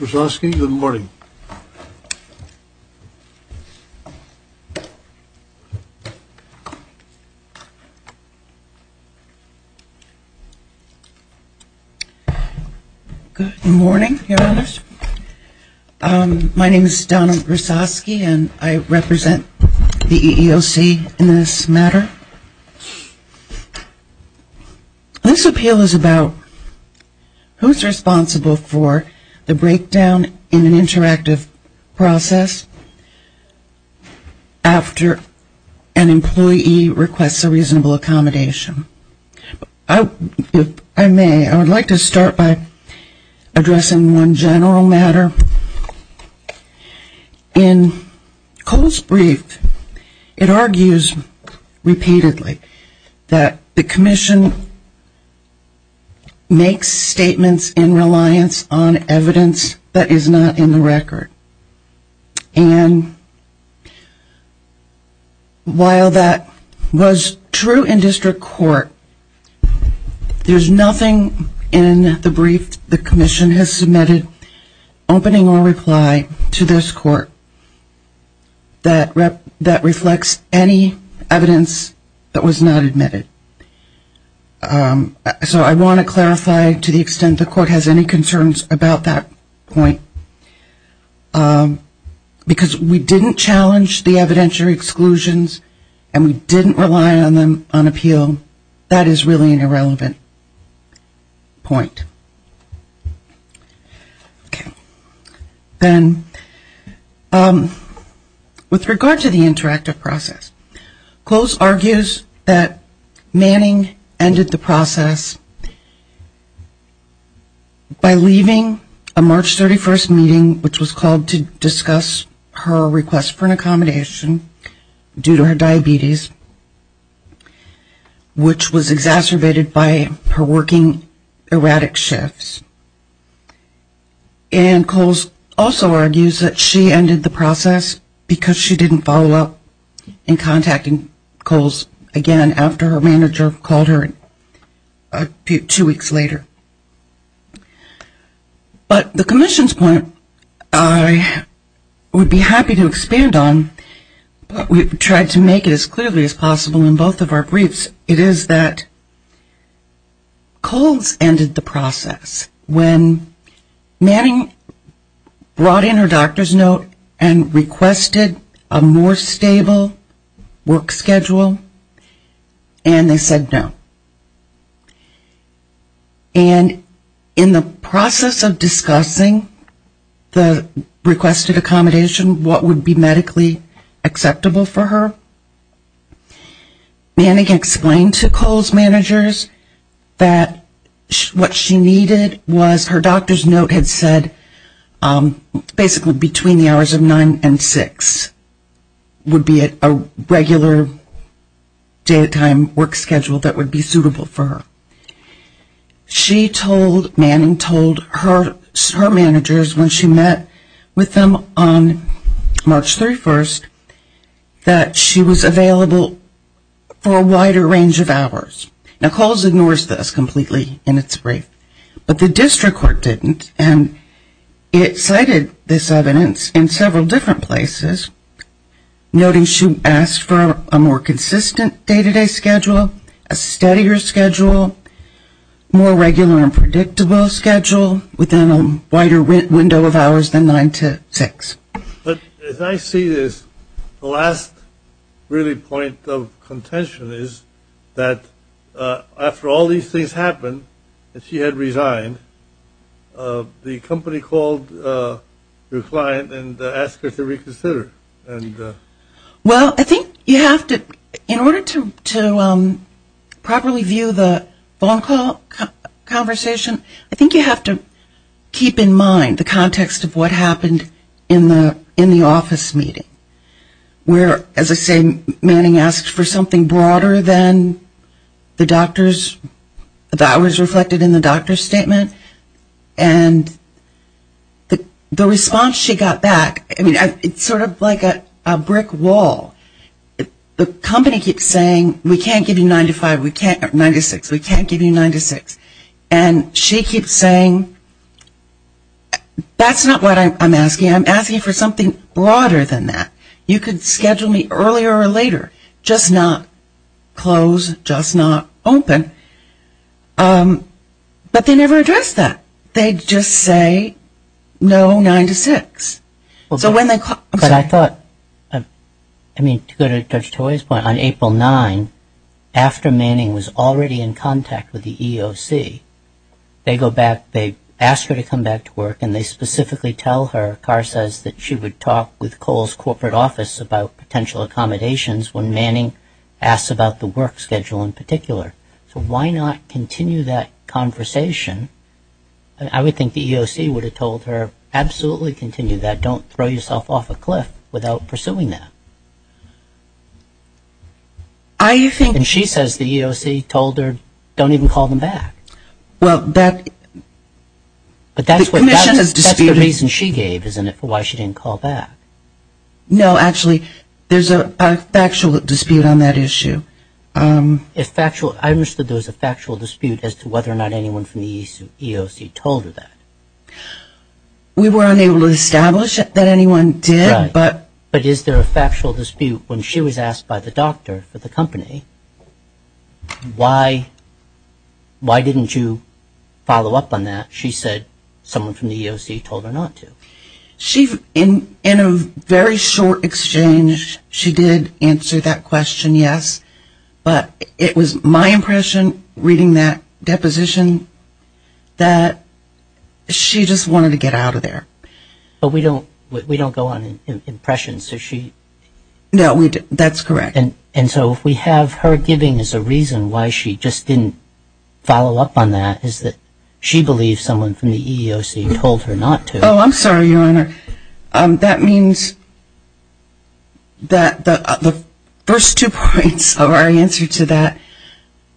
Ms. Przonski, good morning. Good morning, Your Honors. My name is Donna Przonski and I represent the EEOC in this matter. This appeal is about who is responsible for the breakdown in an interactive process after an employee requests a reasonable accommodation. If I may, I would like to start by addressing one general matter. In Kohl's brief, it argues repeatedly that the Commission makes statements in reliance on evidence that is not in the record. While that was true in district court, there is nothing in the brief the Commission has written or replied to this court that reflects any evidence that was not admitted. So I want to clarify to the extent the court has any concerns about that point. Because we didn't challenge the evidentiary exclusions and we didn't rely on them on Then with regard to the interactive process, Kohl's argues that Manning ended the process by leaving a March 31st meeting which was called to discuss her request for an accommodation due to her diabetes which was exacerbated by her working erratic shifts. And Kohl's also argues that she ended the process because she didn't follow up in contacting Kohl's again after her manager called her two weeks later. But the Commission's point I would be happy to expand on, but we tried to make it as clearly as possible in both of our briefs, it is that Kohl's ended the process when Manning brought in her doctor's note and requested a more stable work schedule and they said no. And in the process of discussing the requested accommodation, what would be medically acceptable for her, Manning explained to Kohl's managers that what she needed was her doctor's note had said basically between the hours of 9 and 6 would be a regular day at time work schedule that would be suitable for her. She told, Manning told her managers when she met with them on March 31st that she was available for a wider range of hours. Now Kohl's ignores this completely in its brief, but the district court didn't and it cited this evidence in several different places noting she asked for a more consistent day-to-day schedule, a steadier schedule, more regular and predictable schedule within a wider window of hours than 9 to 6. But as I see this, the last really point of contention is that after all these things happened, that she had resigned, the company called your client and asked her to reconsider. Well, I think you have to, in order to properly view the phone call conversation, I think you have to keep in mind the context of what happened in the office meeting where, as I say, Manning asked for something broader than the doctor's, the hours reflected in the doctor's statement and the response she got back, I mean, it's sort of like a brick wall. The company keeps saying we can't give you 9 to 5, we can't give you 9 to 6. And she keeps saying that's not what I'm asking. I'm asking for something broader than that. You could schedule me earlier or later, just not close, just not open. But they never addressed that. They just say no 9 to 6. So when they call, I'm sorry. But I thought, I mean, to go to Judge Toye's point, on April 9, after Manning was already in contact with the EOC, they go back, they ask her to come back to work and they specifically tell her, Carr says that she would talk with Cole's corporate office about potential accommodations when Manning asks about the work schedule in particular. So why not continue that conversation? I would think the EOC would have told her, absolutely continue that, don't throw yourself off a cliff without pursuing that. And she says the EOC told her, don't even call them back. But that's the reason she gave, isn't it, for why she didn't call back. No, actually, there's a factual dispute on that issue. I understood there was a factual dispute as to whether or not anyone from the EOC told her that. We were unable to establish that anyone did. But is there a factual dispute when she was asked by the doctor for the company, why didn't you follow up on that? She said someone from the EOC told her not to. In a very short exchange, she did answer that question, yes. But it was my impression, reading that deposition, that she just wanted to get out of there. But we don't go on impressions. No, that's correct. And so if we have her giving as a reason why she just didn't follow up on that, is that she believes someone from the EOC told her not to. Oh, I'm sorry, Your Honor. That means that the first two points of our answer to that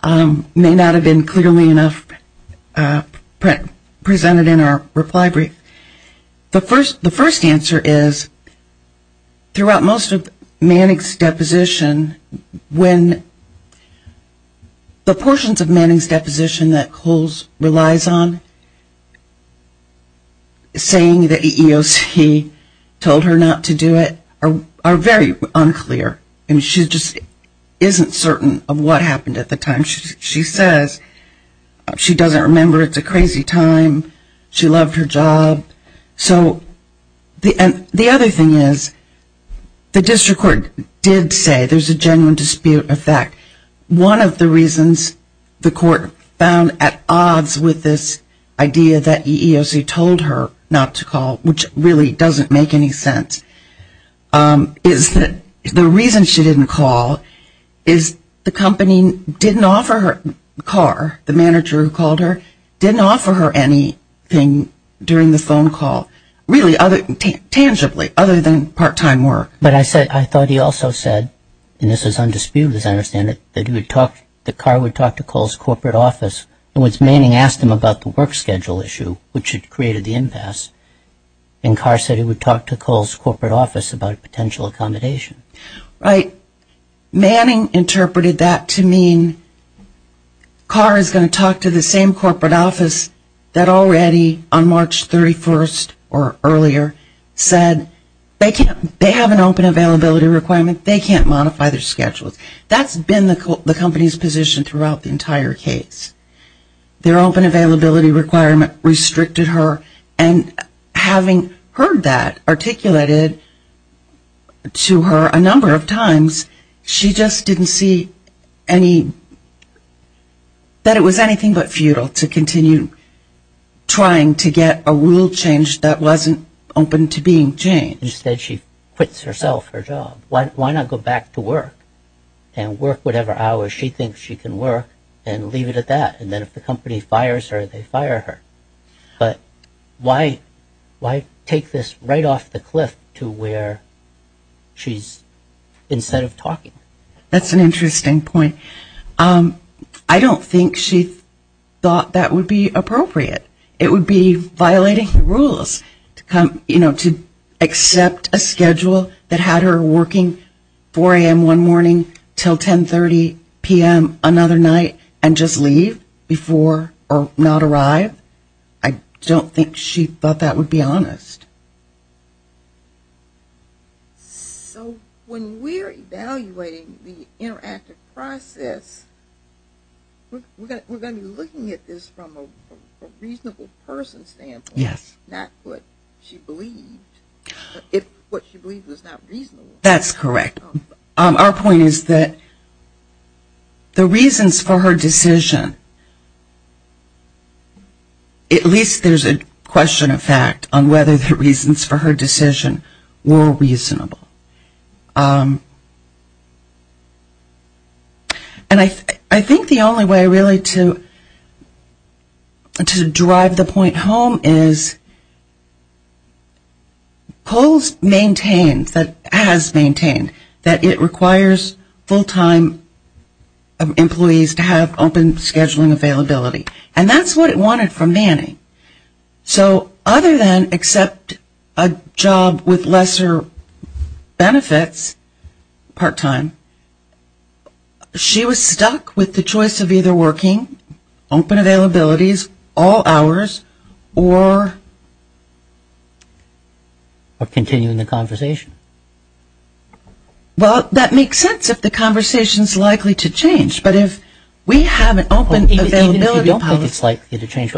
may not have been clearly enough presented in our reply brief. The first answer is throughout most of Manning's deposition, when the portions of Manning's deposition that Coles relies on, saying the EOC told her not to do it, are very unclear. She just isn't certain of what happened at the time. She says she doesn't remember, it's a crazy time, she loved her job. So the other thing is the district court did say there's a genuine dispute of that. One of the reasons the court found at odds with this idea that the EOC told her not to call, which really doesn't make any sense, is that the reason she didn't call is the company didn't offer her a car, the manager who called her didn't offer her anything during the phone call, really, tangibly, other than part-time work. But I thought he also said, and this is undisputed as I understand it, that Carr would talk to Coles' corporate office, in which Manning asked him about the work schedule issue, which had created the impasse, and Carr said he would talk to Coles' corporate office about a potential accommodation. Manning interpreted that to mean Carr is going to talk to the same corporate office that already, on March 31st or earlier, said they have an open availability requirement, they can't modify their schedules. That's been the company's position throughout the entire case. Their open availability requirement restricted her, and having heard that articulated to her a number of times, she just didn't see that it was anything but futile to continue trying to get a rule changed that wasn't open to being changed. Instead, she quits herself her job. Why not go back to work and work whatever hours she thinks she can work and leave it at that? And then if the company fires her, they fire her. But why take this right off the cliff to where she's, instead of talking? That's an interesting point. I don't think she thought that would be appropriate. It would be violating the rules to come, you know, to accept a schedule that had her working 4 a.m. one morning until 10.30 p.m. another night and just leave before or not arrive. I don't think she thought that would be honest. So when we're evaluating the interactive process, we're going to be looking at this from a reasonable person's standpoint. Yes. Not what she believed. If what she believed was not reasonable. That's correct. Our point is that the reasons for her decision, at least there's a question of fact on whether the reasons for her decision were reasonable. And I think the only way really to drive the point home is POHL has maintained that it requires full-time employees to have open scheduling availability. And that's what it wanted from Manning. So other than accept a job with lesser benefits part-time, she was stuck with the choice of either working open availabilities all hours or continuing the conversation. Well, that makes sense if the conversation's likely to change. But if we have an open availability policy I think it's likely to change.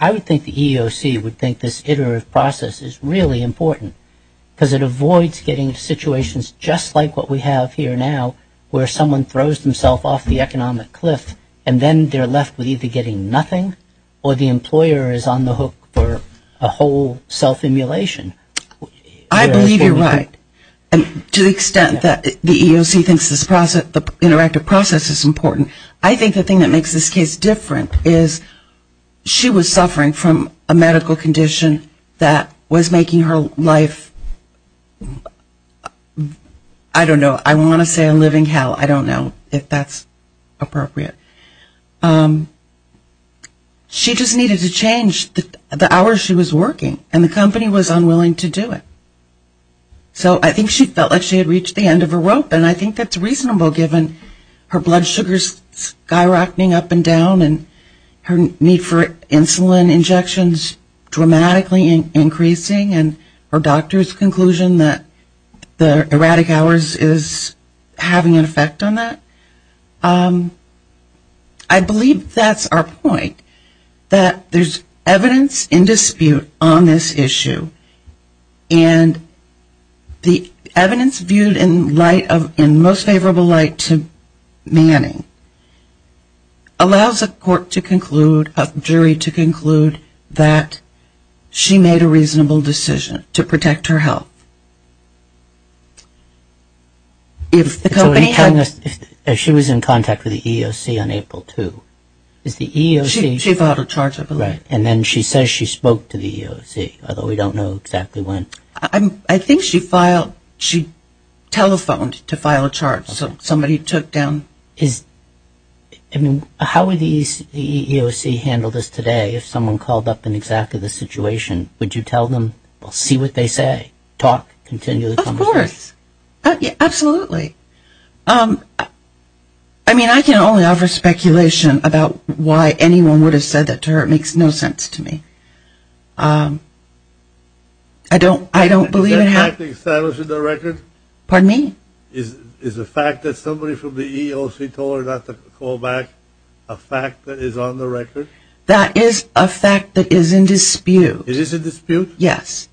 I would think the EEOC would think this iterative process is really important because it avoids getting into situations just like what we have here now where someone throws themselves off the economic cliff and then they're left with either getting nothing or the employer is on the hook for a whole self-immolation. I believe you're right to the extent that the EEOC thinks this interactive process is important. I think the thing that makes this case different is she was suffering from a medical condition that was making her life, I don't know, I want to say a living hell. I don't know if that's appropriate. She just needed to change the hours she was working and the company was unwilling to do it. So I think she felt like she had reached the end of her rope and I think that's reasonable given her blood sugar skyrocketing up and down and her need for insulin injections dramatically increasing and her doctor's conclusion that the erratic hours is having an effect on that. I believe that's our point, that there's evidence in dispute on this issue. And the evidence viewed in light of, in most favorable light to Manning allows a court to conclude, a jury to conclude that she made a reasonable decision to protect her health. If the company had... She was in contact with the EEOC on April 2. Is the EEOC... She filed a charge, I believe. And then she says she spoke to the EEOC, although we don't know exactly when. I think she filed, she telephoned to file a charge. Somebody took down... How would the EEOC handle this today if someone called up in exactly the situation? Would you tell them, see what they say, talk, continue the conversation? Of course. Absolutely. I mean, I can only offer speculation about why anyone would have said that to her. It makes no sense to me. I don't believe... Is that fact established in the record? Pardon me? Is the fact that somebody from the EEOC told her not to call back a fact that is on the record? That is a fact that is in dispute. It is in dispute? Yes.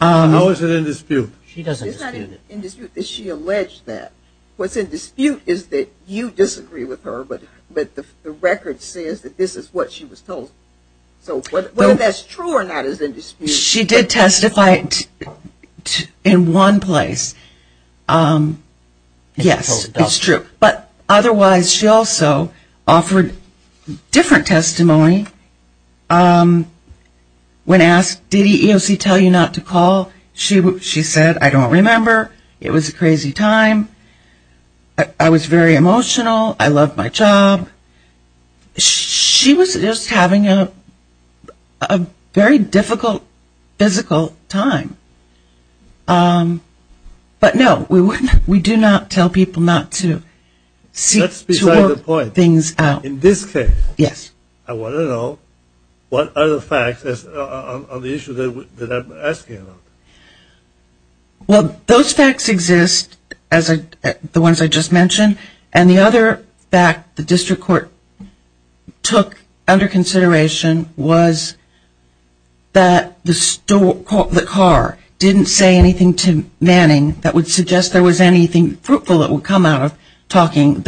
How is it in dispute? She doesn't dispute it. It's not in dispute that she alleged that. What's in dispute is that you disagree with her, but the record says that this is what she was told. So whether that's true or not is in dispute. She did testify in one place. Yes, it's true. But otherwise she also offered different testimony when asked, did the EEOC tell you not to call? She said, I don't remember. It was a crazy time. I was very emotional. I loved my job. She was just having a very difficult physical time. But no, we do not tell people not to. That's beside the point. In this case, I want to know what other facts on the issue that I'm asking about. Well, those facts exist, the ones I just mentioned. And the other fact the district court took under consideration was that the car didn't say anything to Manning that would suggest there was anything fruitful that would come out of that. And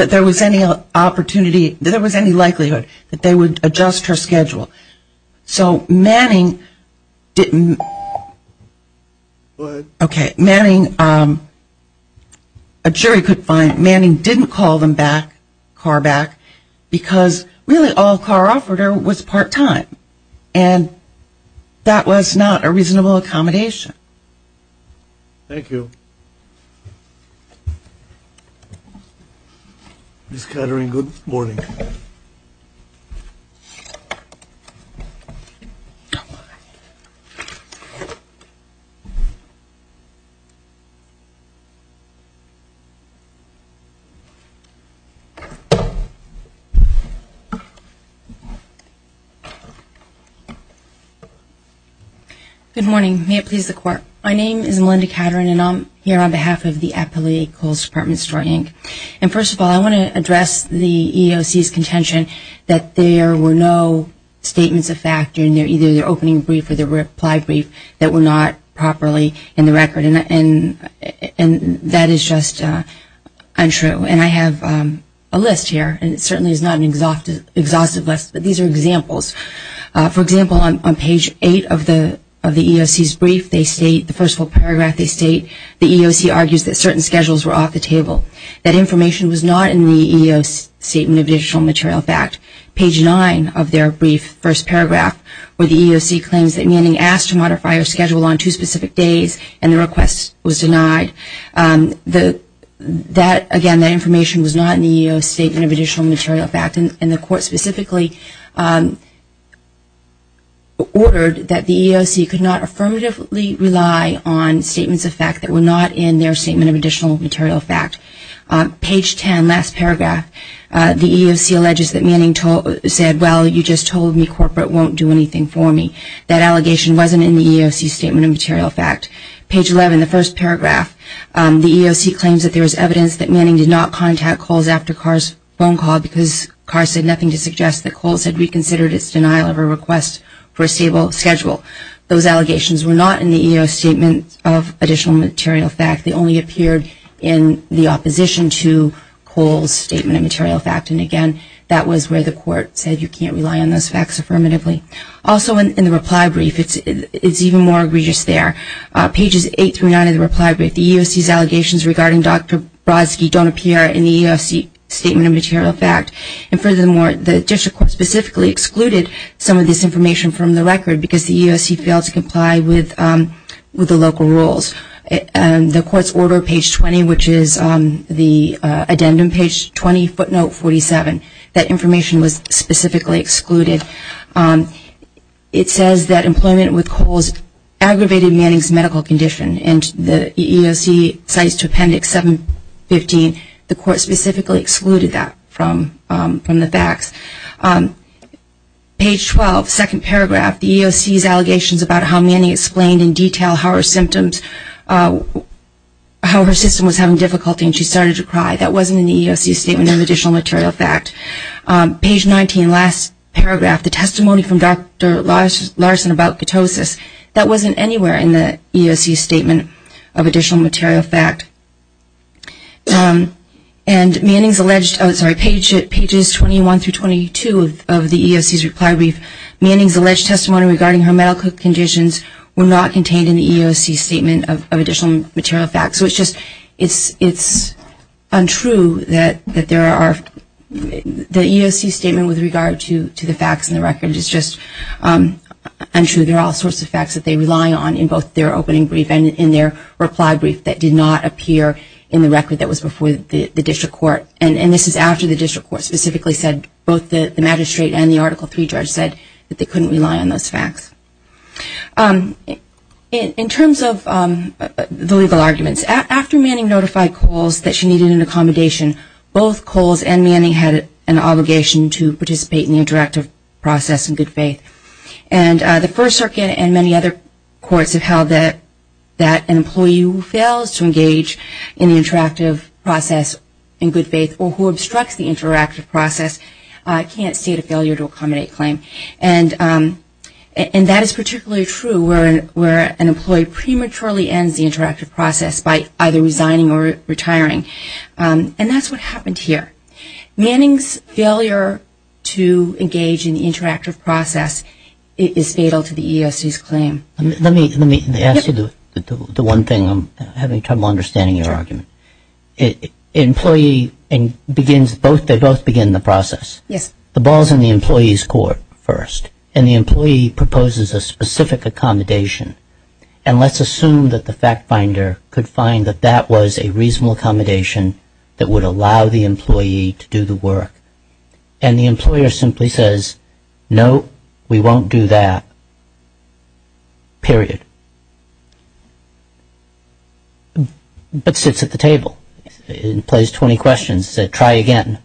that was not a reasonable accommodation. Thank you. Thank you. Thank you. Ms. Kettering, good morning. Good morning. May it please the court. My name is Melinda Kettering and I'm here on behalf of the Appellate Equals Department of Historic Inc. And first of all, I want to address the EEOC's contention that there were no statements of fact in either their opening brief or their reply brief that were not properly in the record. And that is just untrue. And I have a list here. And it certainly is not an exhaustive list, but these are examples. For example, on page 8 of the EEOC's brief, they state, the first full paragraph they state, the EEOC argues that certain schedules were off the table. That information was not in the EEOC Statement of Additional Material Fact. Page 9 of their brief first paragraph where the EEOC claims that Manning asked to modify her schedule on two specific days and the request was denied. That, again, that information was not in the EEOC Statement of Additional Material Fact. And the court specifically ordered that the EEOC could not affirmatively rely on statements of fact that were not in their Statement of Additional Material Fact. Page 10, last paragraph, the EEOC alleges that Manning said, well, you just told me corporate won't do anything for me. That allegation wasn't in the EEOC Statement of Material Fact. Page 11, the first paragraph, the EEOC claims that there is evidence that Manning did not contact calls after Carr's phone call because, Carr said, nothing to suggest that calls had reconsidered its denial of a request for a stable schedule. Those allegations were not in the EEOC Statement of Additional Material Fact. They only appeared in the opposition to Cole's Statement of Material Fact. And, again, that was where the court said you can't rely on those facts affirmatively. Also, in the reply brief, it's even more egregious there. Pages 8 through 9 of the reply brief, the EEOC's allegations regarding Dr. Brodsky don't appear in the EEOC Statement of Material Fact. And, furthermore, the district court specifically excluded some of this information from the record because the EEOC failed to comply with the local rules. The court's order, page 20, which is the addendum, page 20, footnote 47, that information was specifically excluded. It says that employment with Cole's aggravated Manning's medical condition. And the EEOC cites Appendix 715. The court specifically excluded that from the facts. Page 12, second paragraph, the EEOC's allegations about how Manning explained in detail how her system was having difficulty and she started to cry. That wasn't in the EEOC Statement of Additional Material Fact. Page 19, last paragraph, the testimony from Dr. Larson about ketosis. That wasn't anywhere in the EEOC Statement of Additional Material Fact. And Manning's alleged, oh, sorry, pages 21 through 22 of the EEOC's reply brief, Manning's alleged testimony regarding her medical conditions were not contained in the EEOC Statement of Additional Material Fact. So it's just, it's untrue that there are, the EEOC Statement with regard to the facts in the record is just untrue. There are all sorts of facts that they rely on in both their opening brief and in their reply brief that did not appear in the record that was before the EEOC Statement of Additional Material Fact. And this is after the district court specifically said, both the magistrate and the Article III judge said that they couldn't rely on those facts. In terms of the legal arguments, after Manning notified Coles that she needed an accommodation, both Coles and Manning had an obligation to participate in the interactive process in good faith. And the First Circuit and many other courts have held that an employee who fails to engage in the interactive process in good faith is not eligible for an accommodation. Or who obstructs the interactive process can't state a failure to accommodate claim. And that is particularly true where an employee prematurely ends the interactive process by either resigning or retiring. And that's what happened here. Manning's failure to engage in the interactive process is fatal to the EEOC's claim. Let me ask you the one thing, I'm having trouble understanding your argument. Employee begins, they both begin the process. Yes. The ball is in the employee's court first. And the employee proposes a specific accommodation. And let's assume that the fact finder could find that that was a reasonable accommodation that would allow the employee to do the work. And the employer simply says, no, we won't do that. Period. But sits at the table. Plays 20 questions, says try again.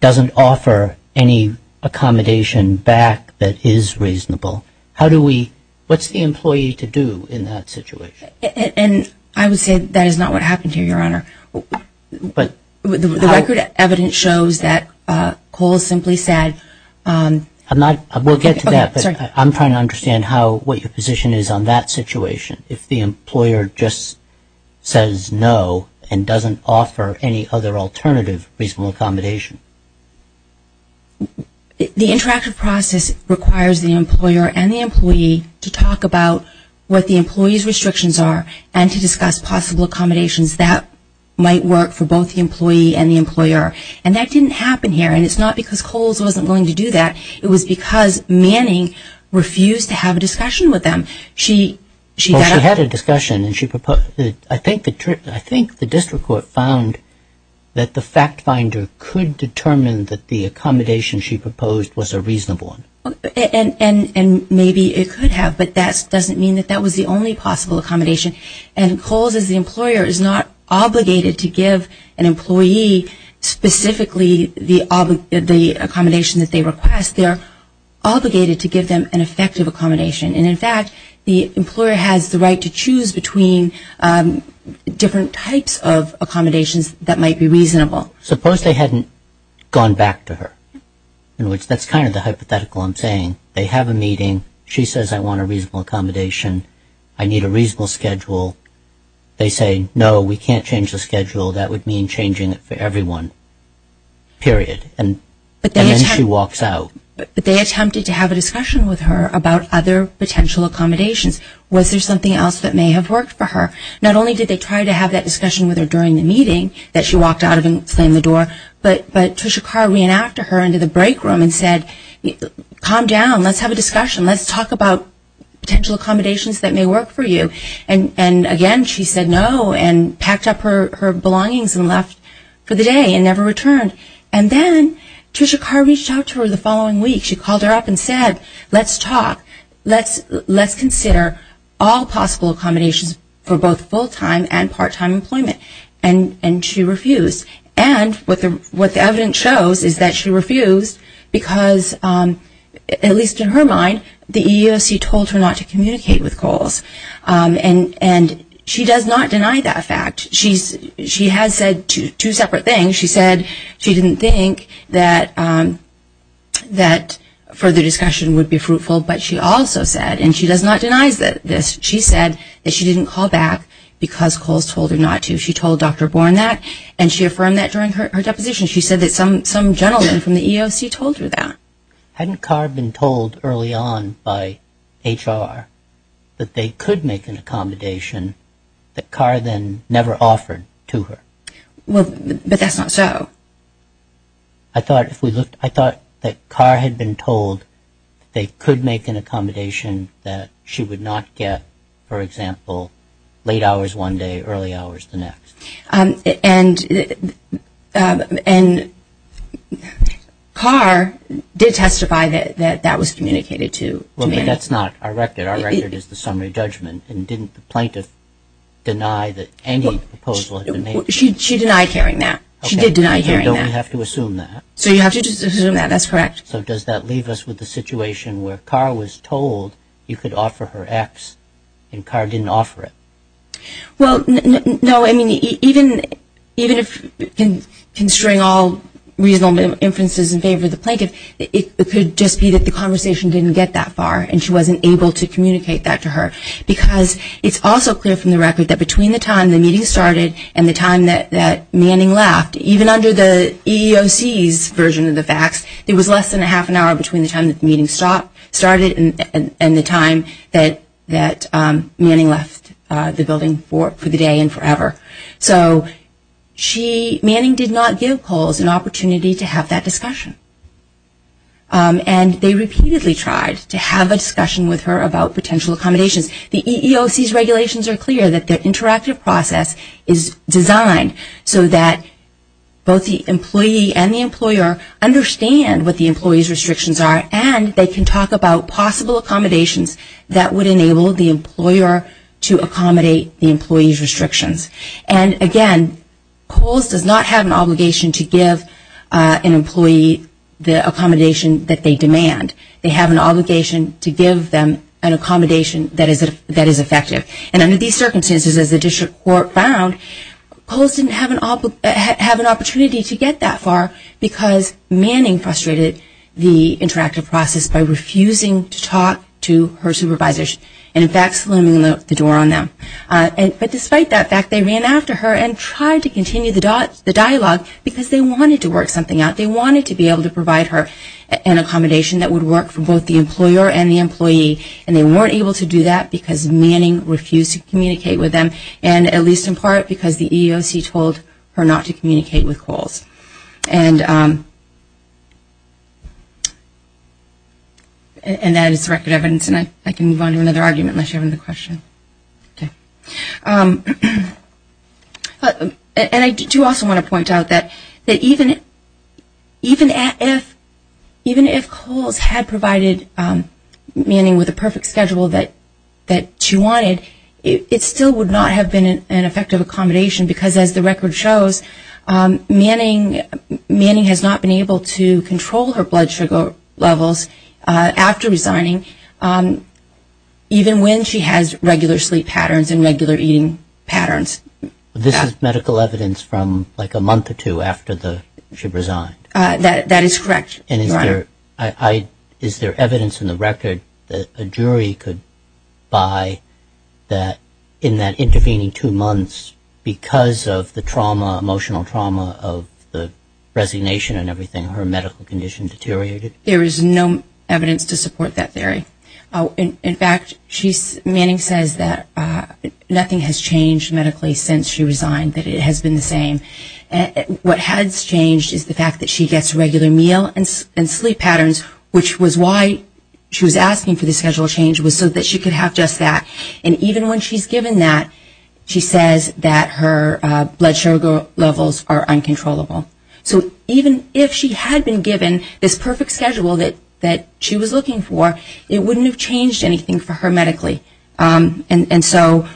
Doesn't offer any accommodation back that is reasonable. How do we, what's the employee to do in that situation? And I would say that is not what happened here, Your Honor. But. The record evidence shows that Cole simply said. I'm not, we'll get to that. I'm trying to understand what your position is on that situation. If the employer just says no and doesn't offer any other alternative reasonable accommodation. The interactive process requires the employer and the employee to talk about what the employee's restrictions are. And to discuss possible accommodations that might work for both the employee and the employer. And that didn't happen here. And it's not because Coles wasn't willing to do that. It was because Manning refused to have a discussion with them. She had a discussion and she proposed. I think the district court found that the fact finder could determine that the accommodation she proposed was a reasonable one. And maybe it could have. But that doesn't mean that that was the only possible accommodation. And Coles as the employer is not obligated to give an employee specifically the obligatory accommodation. The accommodation that they request. They're obligated to give them an effective accommodation. And in fact the employer has the right to choose between different types of accommodations that might be reasonable. Suppose they hadn't gone back to her. In which that's kind of the hypothetical I'm saying. They have a meeting. She says I want a reasonable accommodation. I need a reasonable schedule. They say no, we can't change the schedule. That would mean changing it for everyone. Period. And then she walks out. But they attempted to have a discussion with her about other potential accommodations. Was there something else that may have worked for her? Not only did they try to have that discussion with her during the meeting that she walked out of and slammed the door. But Tricia Carr ran after her into the break room and said calm down, let's have a discussion. Let's talk about potential accommodations that may work for you. And again she said no and packed up her belongings and left for the day and never returned. And then Tricia Carr reached out to her the following week. She called her up and said let's talk. Let's consider all possible accommodations for both full-time and part-time employment. And she refused. And what the evidence shows is that she refused because at least in her mind, the EEOC told her not to communicate with Coles. And she does not deny that fact. She has said two separate things. She said she didn't think that further discussion would be fruitful. But she also said and she does not deny this. She said that she didn't call back because Coles told her not to. She told Dr. Born that and she affirmed that during her deposition. She said that some gentleman from the EEOC told her that. Hadn't Carr been told early on by HR that they could make an accommodation that Carr then never offered to her? But that's not so. I thought that Carr had been told that they could make an accommodation that she would not get, for example, late hours one day, early hours the next. And Carr did testify that that was communicated to me. Well, but that's not our record. Our record is the summary judgment. And didn't the plaintiff deny that any proposal had been made? She denied hearing that. She did deny hearing that. So you have to assume that. That's correct. So does that leave us with the situation where Carr was told you could offer her X and Carr didn't offer it? Well, no. I mean, even if constrain all reasonable inferences in favor of the plaintiff, it could just be that the conversation didn't get that far and she wasn't able to communicate that to her. Because it's also clear from the record that between the time the meeting started and the time that Manning left, even under the EEOC's version of the facts, it was less than a half an hour between the time the meeting started and the time that Manning left the building for the day and forever. So Manning did not give Coles an opportunity to have that discussion. And they repeatedly tried to have a discussion with her about potential accommodations. The EEOC's regulations are clear that the interactive process is designed so that both the employee and the employer understand what the employee's restrictions are and they can talk about possible accommodations that would enable the employer to accommodate the employee's restrictions. And again, Coles does not have an obligation to give an employee the accommodation that they demand. They have an obligation to give them an accommodation that is effective. And under these circumstances, as the district court found, Coles didn't have an opportunity to get that far because Manning frustrated the interactive process by refusing to talk to her supervisors and in fact slamming the door on them. But despite that fact, they ran after her and tried to continue the dialogue because they wanted to work something out. They wanted to be able to provide her an accommodation that would work for both the employer and the employee. And they weren't able to do that because Manning refused to communicate with them and at least in part because the EEOC told her not to communicate with Coles. And that is the record evidence and I can move on to another argument unless you have another question. And I do also want to point out that even if Coles had provided Manning with the perfect schedule that she wanted, it still would not have been an effective accommodation because as the record shows, Manning has not been able to control her blood sugar levels after resigning even when she has regular sleep patterns and regular eating patterns. This is medical evidence from like a month or two after she resigned. That is correct. And is there evidence in the record that a jury could buy that in that intervening two months because of the trauma, emotional trauma of the resignation and everything, her medical condition deteriorated? There is no evidence to support that theory. In fact, Manning says that nothing has changed medically since she resigned, that it has been the same. What has changed is the fact that she gets regular meal and sleep patterns which was why she was asking for the schedule change was so that she could have just that. And even when she is given that, she says that her blood sugar levels are uncontrollable. So even if she had been given this perfect schedule that she was looking for, it wouldn't have changed anything for her medically. And so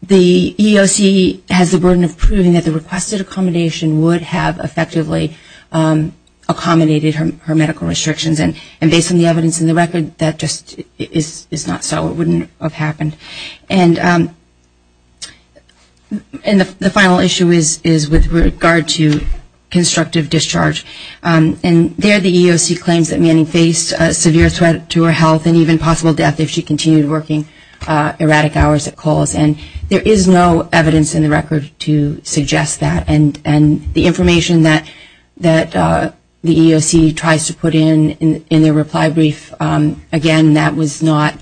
the EEOC has the burden of proving that the requested accommodation would have effectively accommodated her medical restrictions and based on the evidence in the record, that just is not so. It wouldn't have happened. And the final issue is with regard to constructive discharge. And there the EEOC claims that Manning faced a severe threat to her health and even possible death if she continued working erratic hours at Coles. And there is no evidence in the record to suggest that. And the information that the EEOC tries to put in in their reply brief, again, that was not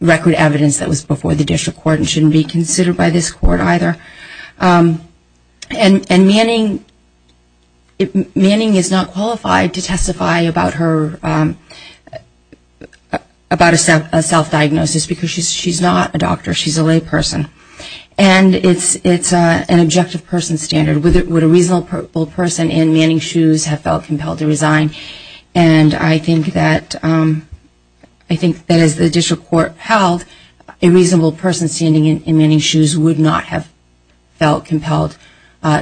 record evidence that was before the district court and shouldn't be considered by this court either. And Manning is not qualified to testify about her self-diagnosis because she's not a doctor. She's a lay person. And it's an objective person standard. Would a reasonable person in Manning's shoes have felt compelled to resign? And I think that as the district court held, a reasonable person standing in Manning's shoes would not have felt compelled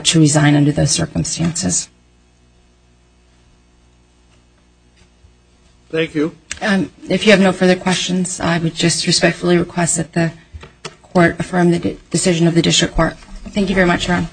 to resign under those circumstances. Thank you. If you have no further questions, I would just respectfully request that the court affirm the decision of the district court. Thank you very much, Ron.